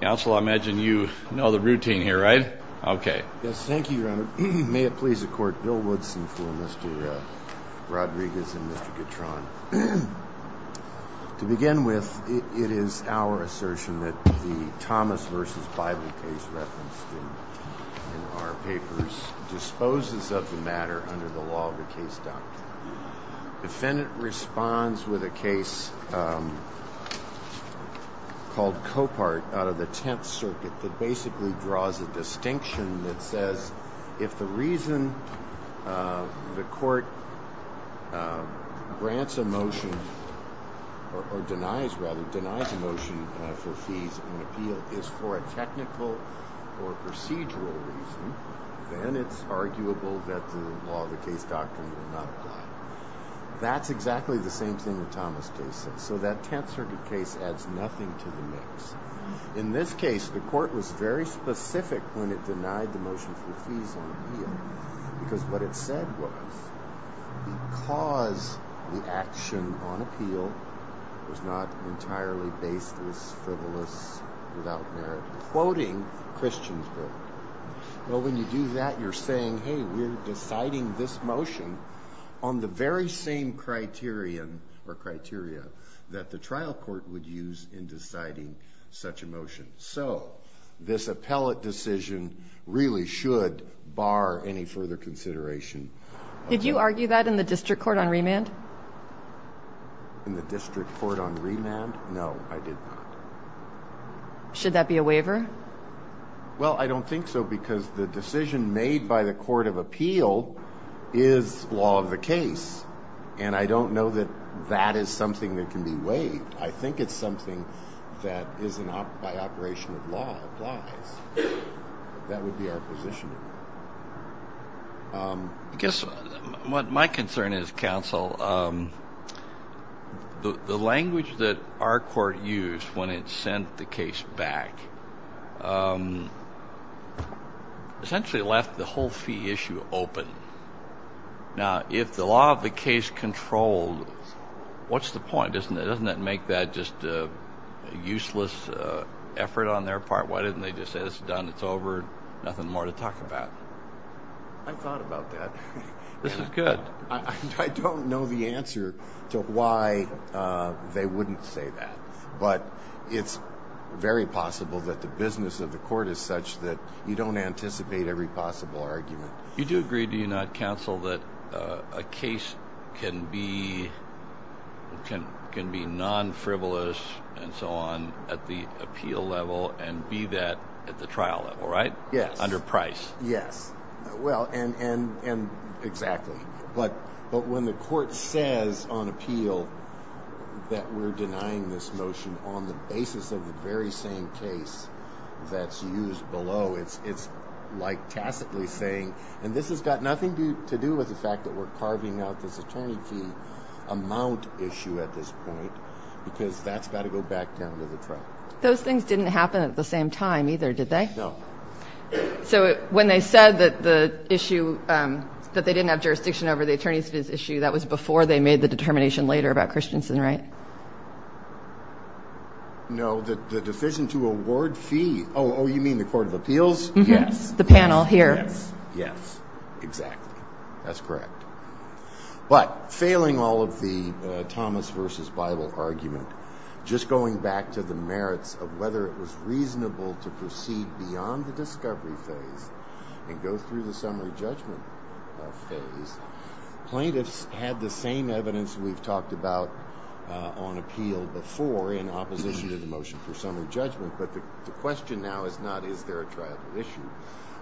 Counsel, I imagine you know the routine here, right? Okay. Yes. Thank you, Your Honor. May it please the court, Bill Woodson for Mr. Rodriguez and Mr. Guitron. To begin with, it is our assertion that the Thomas v. Bible case referenced in our papers disposes of the matter under the law of the case doctrine. Defendant responds with a case called Copart out of the Tenth Circuit that basically draws a distinction that says if the reason the court grants a motion or denies rather, denies a motion for fees and appeal is for a technical or procedural reason, then it's arguable that the law of the case doctrine would not apply. That's exactly the same thing the Thomas case says. So that Tenth Circuit case adds nothing to the mix. In this case, the court was very specific when it denied the motion for fees and appeal because what it said was because the action on appeal was not entirely baseless, frivolous, without merit, quoting Christiansburg. Well, when you do that, you're saying, hey, we're deciding this motion on the very same criteria or criteria that the trial court would use in deciding such a motion. So this appellate decision really should bar any further consideration. Did you argue that in the district court on remand? In the district court on remand? No, I did not. Should that be a waiver? Well, I don't think so, because the decision made by the court of appeal is law of the case. And I don't know that that is something that can be waived. I think it's something that isn't by operation of law applies. That would be our position. I guess my concern is, counsel, the language that our court used when it sent the case back essentially left the whole fee issue open. Now, if the law of the case controlled, what's the point? Doesn't that make that just a useless effort on their part? Why didn't they just say it's done, it's over, nothing more to talk about? I've thought about that. This is good. I don't know the answer to why they wouldn't say that. But it's very possible that the business of the court is such that you don't anticipate every possible argument. You do agree, do you not, counsel, that a case can be non-frivolous and so on at the appeal level and be that at the trial level, right? Under price. Yes. Well, and exactly. But when the court says on appeal that we're denying this motion on the basis of the very same case that's used below, it's like tacitly saying, and this has got nothing to do with the fact that we're carving out this attorney fee amount issue at this point, because that's got to go back down to the trial. Those things didn't happen at the same time either, did they? No. So when they said that the issue, that they didn't have jurisdiction over the attorney's fees issue, that was before they made the determination later about Christensen, right? No, the decision to award fee, oh, you mean the court of appeals? Yes. The panel here. Yes, exactly. That's correct. But failing all of the Thomas versus Bible argument, just going back to the merits of whether it was reasonable to proceed beyond the discovery phase and go through the summary judgment phase, plaintiffs had the same evidence we've talked about on appeal before in opposition to the motion for summary judgment. But the question now is not is there a trial issue,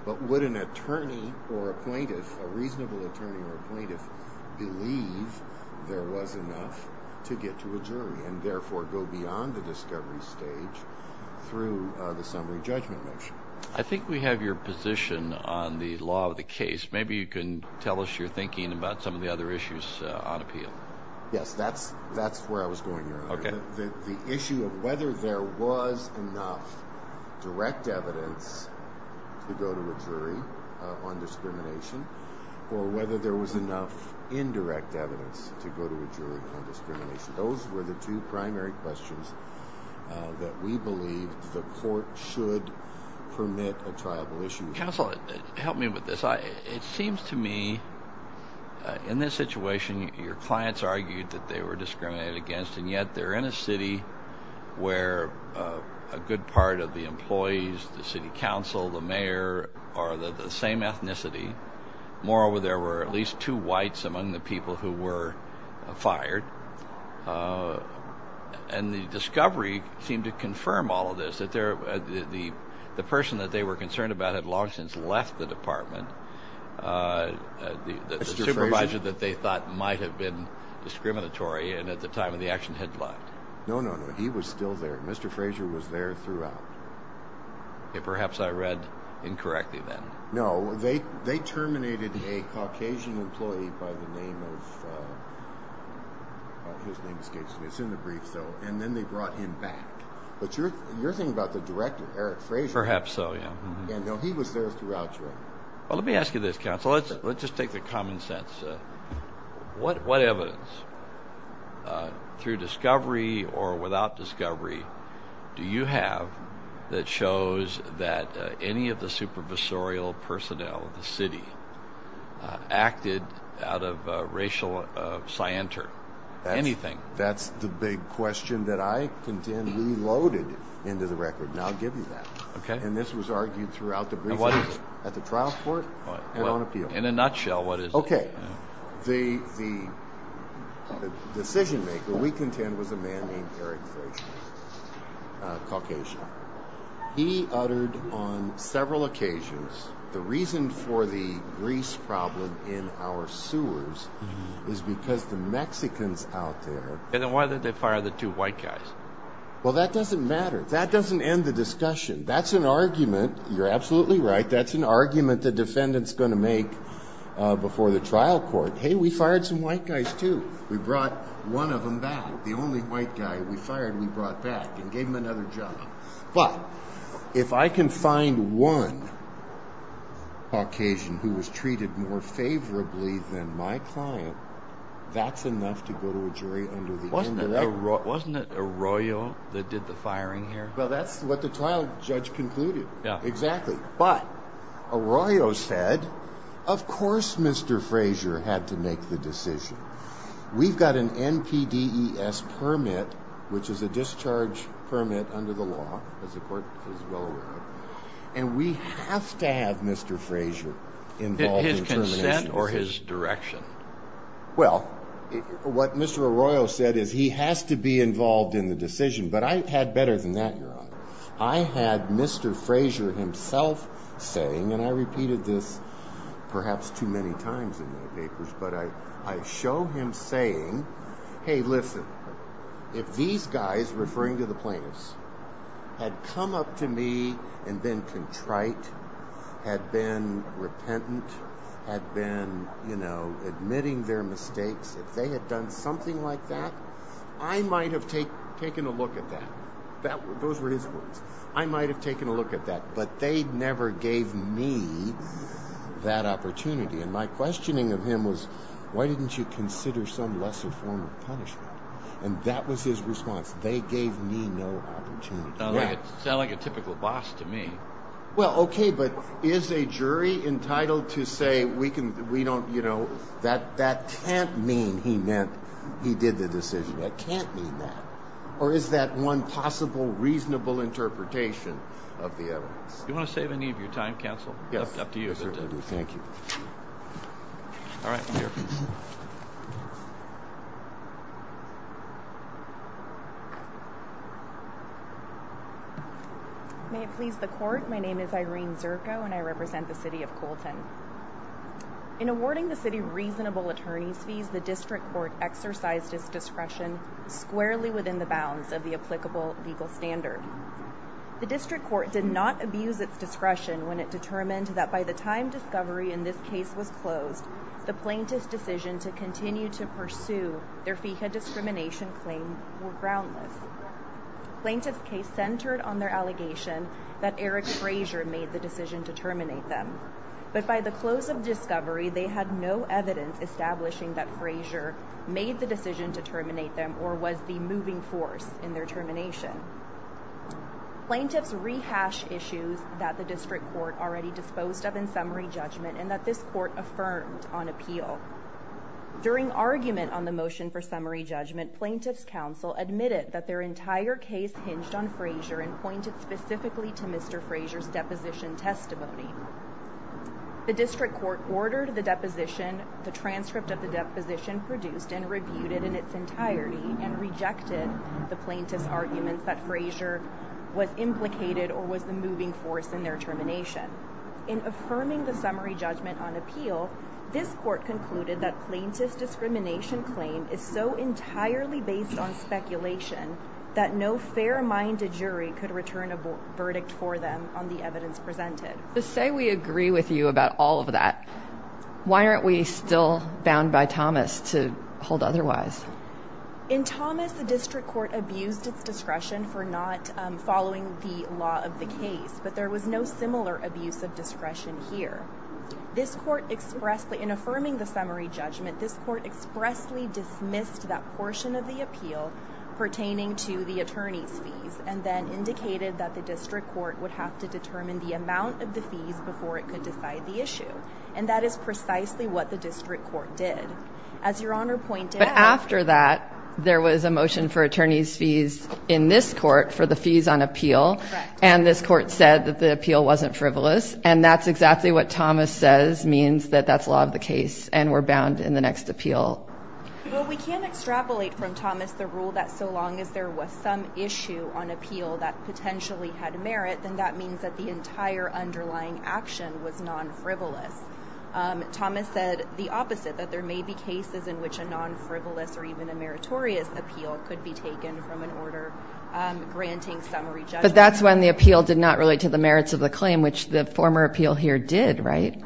but would an attorney or a plaintiff, a reasonable attorney or a plaintiff, believe there was enough to get to a jury and therefore go beyond the discovery stage through the summary judgment motion? I think we have your position on the law of the case. Maybe you can tell us your thinking about some of the other issues on appeal. Yes, that's where I was going earlier. Okay. The issue of whether there was enough direct evidence to go to a jury on discrimination or whether there was enough indirect evidence to go to a jury on discrimination. Those were the two primary questions that we believe the court should permit a trial issue. Counsel, help me with this. It seems to me in this situation, your clients argued that they were discriminated against, and yet they're in a city where a good part of the employees, the city council, the mayor are the same ethnicity. Moreover, there were at least two whites among the people who were fired. And the discovery seemed to confirm all of this, that the person that they were concerned about had long since left the department, the supervisor that they thought might have been discriminatory and at the time of the action had left. No, no, no. He was still there. Mr. Frazier was there throughout. Perhaps I read incorrectly then. No, they terminated a Caucasian employee by the name of, his name escapes me, it's in the briefs though, and then they brought him back. But you're thinking about the director, Eric Frazier. Perhaps so, yeah. Yeah, no, he was there throughout. Well, let me ask you this, counsel. Let's just take the common sense. What evidence, through discovery or without discovery, do you have that shows that any of the supervisorial personnel of the city acted out of racial scienter? Anything? That's the big question that I contend we loaded into the record, and I'll give you that. Okay. And this was argued throughout the briefings at the trial court and on appeal. In a nutshell, what is it? The decision maker, we contend, was a man named Eric Frazier, a Caucasian. He uttered on several occasions, the reason for the Greece problem in our sewers is because the Mexicans out there. And then why did they fire the two white guys? Well, that doesn't matter. That doesn't end the discussion. That's an argument. You're absolutely right. That's an argument the defendant's going to make before the trial court. Hey, we fired some white guys too. We brought one of them back. The only white guy we fired we brought back and gave him another job. But if I can find one Caucasian who was treated more favorably than my client, that's enough to go to a jury under the end of that. Wasn't it Arroyo that did the firing here? Well, that's what the trial judge concluded. Yeah. Exactly. But Arroyo said, of course Mr. Frazier had to make the decision. We've got an NPDES permit, which is a discharge permit under the law, as the court is well aware of. And we have to have Mr. Frazier involved in termination. Well, what Mr. Arroyo said is he has to be involved in the decision. But I had better than that, Your Honor. I had Mr. Frazier himself saying, and I repeated this perhaps too many times in my papers, but I show him saying, Hey, listen, if these guys, referring to the plaintiffs, had come up to me and been contrite, had been repentant, had been admitting their mistakes, if they had done something like that, I might have taken a look at that. Those were his words. I might have taken a look at that, but they never gave me that opportunity. And my questioning of him was, why didn't you consider some lesser form of punishment? And that was his response. They gave me no opportunity. Sounded like a typical boss to me. Well, okay, but is a jury entitled to say, we don't, you know, that can't mean he did the decision. That can't mean that. Or is that one possible reasonable interpretation of the evidence? Do you want to save any of your time, counsel? Yes. It's up to you. Thank you. All right, here. May it please the court, my name is Irene Zirko and I represent the city of Colton. In awarding the city reasonable attorney's fees, the district court exercised its discretion squarely within the bounds of the applicable legal standard. The district court did not abuse its discretion when it determined that by the time discovery in this case was closed, the plaintiff's decision to continue to pursue their FICA discrimination claim were groundless. Plaintiff's case centered on their allegation that Eric Frazier made the decision to terminate them. But by the close of discovery, they had no evidence establishing that Frazier made the decision to terminate them or was the moving force in their termination. Plaintiff's rehash issues that the district court already disposed of in summary judgment and that this court affirmed on appeal. During argument on the motion for summary judgment, plaintiff's counsel admitted that their entire case hinged on Frazier and pointed specifically to Mr. Frazier's deposition testimony. The district court ordered the deposition, the transcript of the deposition produced and rebuted in its entirety and rejected the plaintiff's argument that Frazier was implicated or was the moving force in their termination. In affirming the summary judgment on appeal, this court concluded that plaintiff's discrimination claim is so entirely based on speculation that no fair-minded jury could return a verdict for them on the evidence presented. To say we agree with you about all of that, why aren't we still bound by Thomas to hold otherwise? In Thomas, the district court abused its discretion for not following the law of the case, but there was no similar abuse of discretion here. In affirming the summary judgment, this court expressly dismissed that portion of the appeal pertaining to the attorney's fees and then indicated that the district court would have to determine the amount of the fees before it could decide the issue. And that is precisely what the district court did. But after that, there was a motion for attorney's fees in this court for the fees on appeal and this court said that the appeal wasn't frivolous and that's exactly what Thomas says means that that's law of the case and we're bound in the next appeal. Well, we can extrapolate from Thomas the rule that so long as there was some issue on appeal that potentially had merit, then that means that the entire underlying action was non-frivolous. Thomas said the opposite, that there may be cases in which a non-frivolous or even a meritorious appeal could be taken from an order granting summary judgment. But that's when the appeal did not relate to the merits of the claim, which the former appeal here did, right?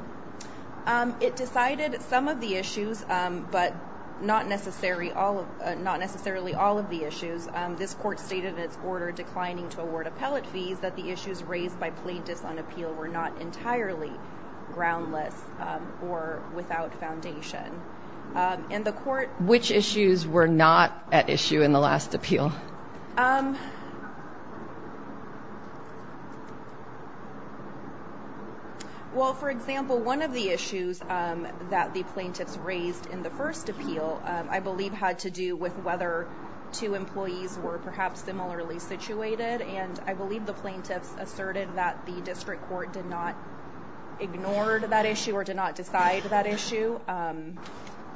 It decided some of the issues, but not necessarily all of the issues. This court stated in its order declining to award appellate fees that the issues raised by plaintiffs on appeal were not entirely groundless or without foundation. Which issues were not at issue in the last appeal? Well, for example, one of the issues that the plaintiffs raised in the first appeal, I believe had to do with whether two employees were perhaps similarly situated and I believe the plaintiffs asserted that the district court did not ignore that issue or did not decide that issue.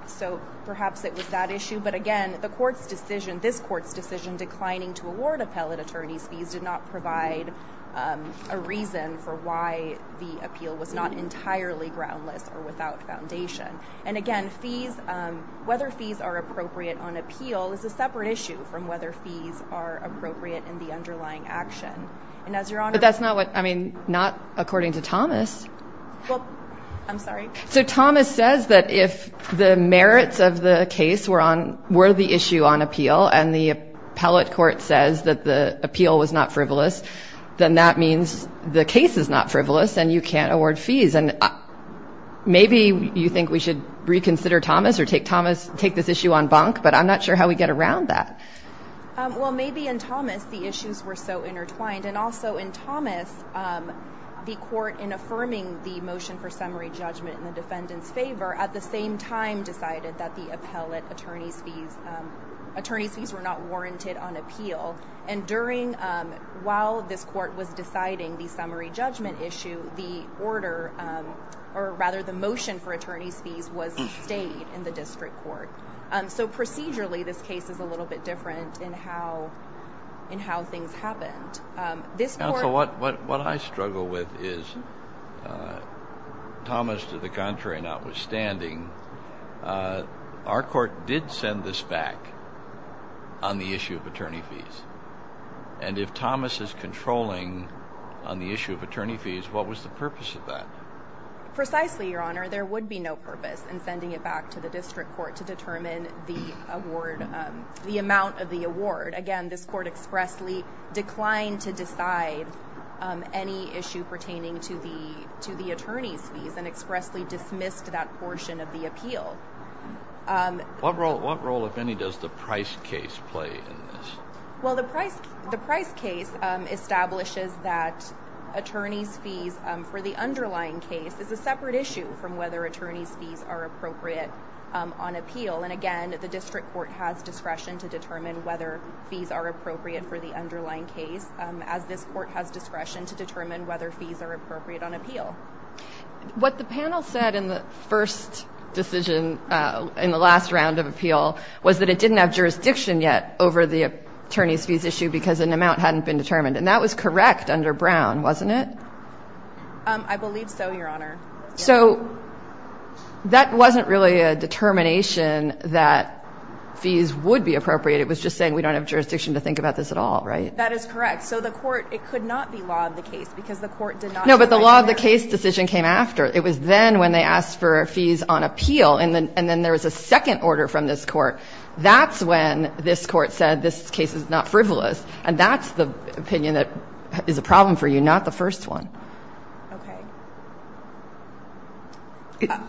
So perhaps it was that issue, but again, the court's decision, this court's decision, in declining to award appellate attorney's fees did not provide a reason for why the appeal was not entirely groundless or without foundation. And again, whether fees are appropriate on appeal is a separate issue from whether fees are appropriate in the underlying action. But that's not what, I mean, not according to Thomas. I'm sorry? So Thomas says that if the merits of the case were the issue on appeal and the appellate court says that the appeal was not frivolous, then that means the case is not frivolous and you can't award fees. And maybe you think we should reconsider Thomas or take Thomas, take this issue on bonk, but I'm not sure how we get around that. Well, maybe in Thomas the issues were so intertwined. And also in Thomas, the court, in affirming the motion for summary judgment in the defendant's favor, at the same time decided that the appellate attorney's fees were not warranted on appeal. And during, while this court was deciding the summary judgment issue, the order, or rather the motion for attorney's fees was stayed in the district court. So procedurally this case is a little bit different in how things happened. Counsel, what I struggle with is, Thomas to the contrary notwithstanding, our court did send this back on the issue of attorney fees. And if Thomas is controlling on the issue of attorney fees, what was the purpose of that? Precisely, Your Honor. There would be no purpose in sending it back to the district court to determine the award, the amount of the award. Again, this court expressly declined to decide any issue pertaining to the attorney's fees and expressly dismissed that portion of the appeal. What role, if any, does the Price case play in this? Well, the Price case establishes that attorney's fees for the underlying case is a separate issue as to whether attorney's fees are appropriate on appeal. And again, the district court has discretion to determine whether fees are appropriate for the underlying case, as this court has discretion to determine whether fees are appropriate on appeal. What the panel said in the first decision in the last round of appeal was that it didn't have jurisdiction yet over the attorney's fees issue because an amount hadn't been determined. And that was correct under Brown, wasn't it? I believe so, Your Honor. So that wasn't really a determination that fees would be appropriate. It was just saying we don't have jurisdiction to think about this at all, right? That is correct. So the court, it could not be law of the case because the court did not. No, but the law of the case decision came after. It was then when they asked for fees on appeal, and then there was a second order from this court. That's when this court said this case is not frivolous, and that's the opinion that is a problem for you, not the first one. Okay.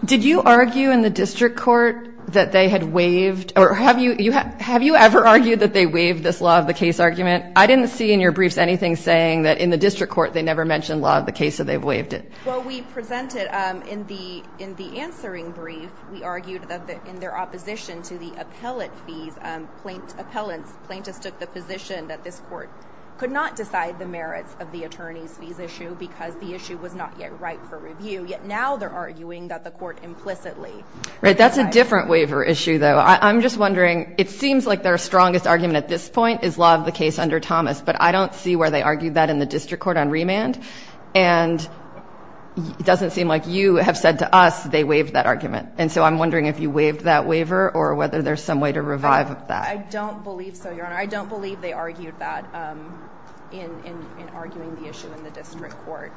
Did you argue in the district court that they had waived? Or have you ever argued that they waived this law of the case argument? I didn't see in your briefs anything saying that in the district court they never mentioned law of the case that they've waived it. Well, we presented in the answering brief, we argued that in their opposition to the appellate fees, plaintiffs took the position that this court could not decide the merits of the attorney's fees issue because the issue was not yet ripe for review. Yet now they're arguing that the court implicitly. Right. That's a different waiver issue, though. I'm just wondering, it seems like their strongest argument at this point is law of the case under Thomas, but I don't see where they argued that in the district court on remand, and it doesn't seem like you have said to us they waived that argument. And so I'm wondering if you waived that waiver or whether there's some way to revive that. I don't believe so, Your Honor. I don't believe they argued that in arguing the issue in the district court.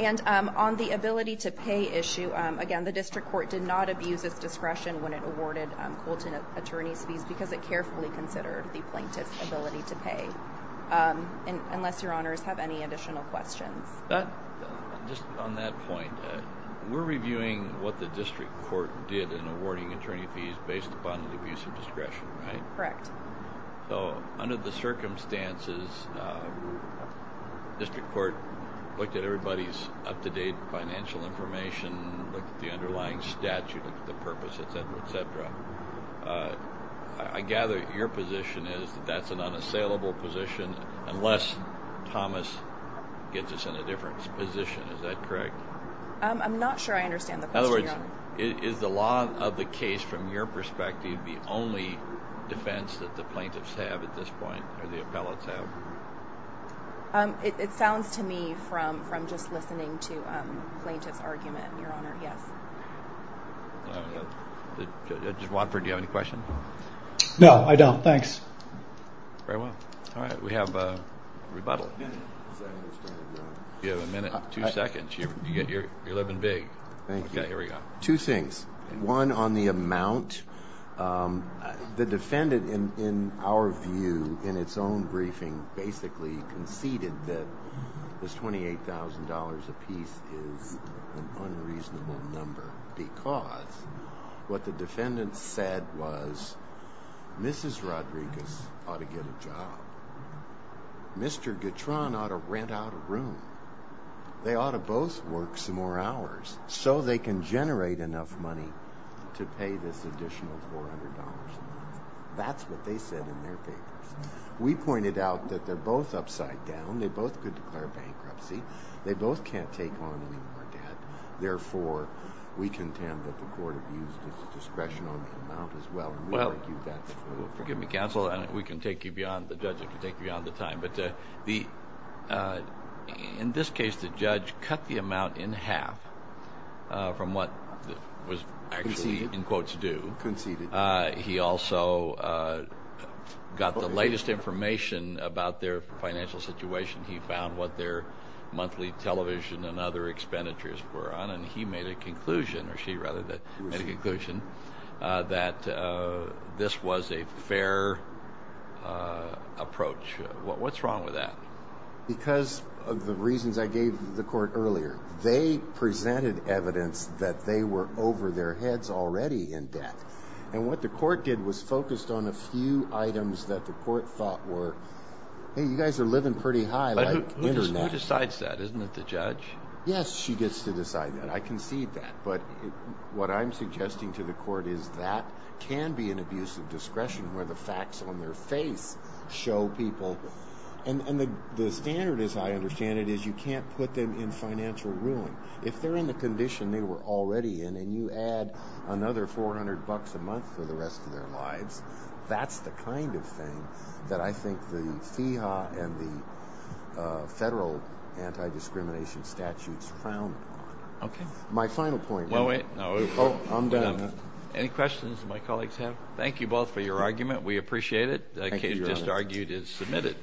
And on the ability to pay issue, again, the district court did not abuse its discretion when it awarded Colton attorney's fees because it carefully considered the plaintiff's ability to pay, unless Your Honors have any additional questions. Just on that point, we're reviewing what the district court did in awarding attorney's fees based upon the abuse of discretion, right? Correct. So under the circumstances, district court looked at everybody's up-to-date financial information, looked at the underlying statute, looked at the purpose, et cetera, et cetera. I gather your position is that that's an unassailable position unless Thomas gets us in a different position. Is that correct? I'm not sure I understand the question, Your Honor. In other words, is the law of the case, from your perspective, the only defense that the plaintiffs have at this point or the appellates have? It sounds to me from just listening to plaintiff's argument, Your Honor, yes. Judge Watford, do you have any questions? No, I don't. Thanks. Very well. All right. We have a rebuttal. You have a minute, two seconds. You're living big. Thank you. Okay, here we go. Two things. One, on the amount, the defendant, in our view, in its own briefing, basically conceded that this $28,000 apiece is an unreasonable number because what the defendant said was Mrs. Rodriguez ought to get a job. Mr. Guitron ought to rent out a room. They ought to both work some more hours so they can generate enough money to pay this additional $400 a month. That's what they said in their papers. We pointed out that they're both upside down. They both could declare bankruptcy. They both can't take on any more debt. Therefore, we contend that the court abused its discretion on the amount as well. Well, forgive me, counsel, and we can take you beyond the judge if we take you beyond the time. But in this case, the judge cut the amount in half from what was actually in quotes due. Conceded. He also got the latest information about their financial situation. He found what their monthly television and other expenditures were on, and he made a conclusion that this was a fair approach. What's wrong with that? Because of the reasons I gave the court earlier, they presented evidence that they were over their heads already in debt. And what the court did was focused on a few items that the court thought were, hey, you guys are living pretty high. Who decides that? Isn't it the judge? Yes, she gets to decide that. I concede that. But what I'm suggesting to the court is that can be an abuse of discretion where the facts on their face show people. And the standard, as I understand it, is you can't put them in financial ruin. If they're in the condition they were already in, and you add another 400 bucks a month for the rest of their lives, that's the kind of thing that I think the FEHA and the federal anti-discrimination statutes frowned on. Okay. My final point. No, wait. I'm done. Any questions that my colleagues have? Thank you both for your argument. We appreciate it. Thank you, Your Honor. The case just argued is submitted.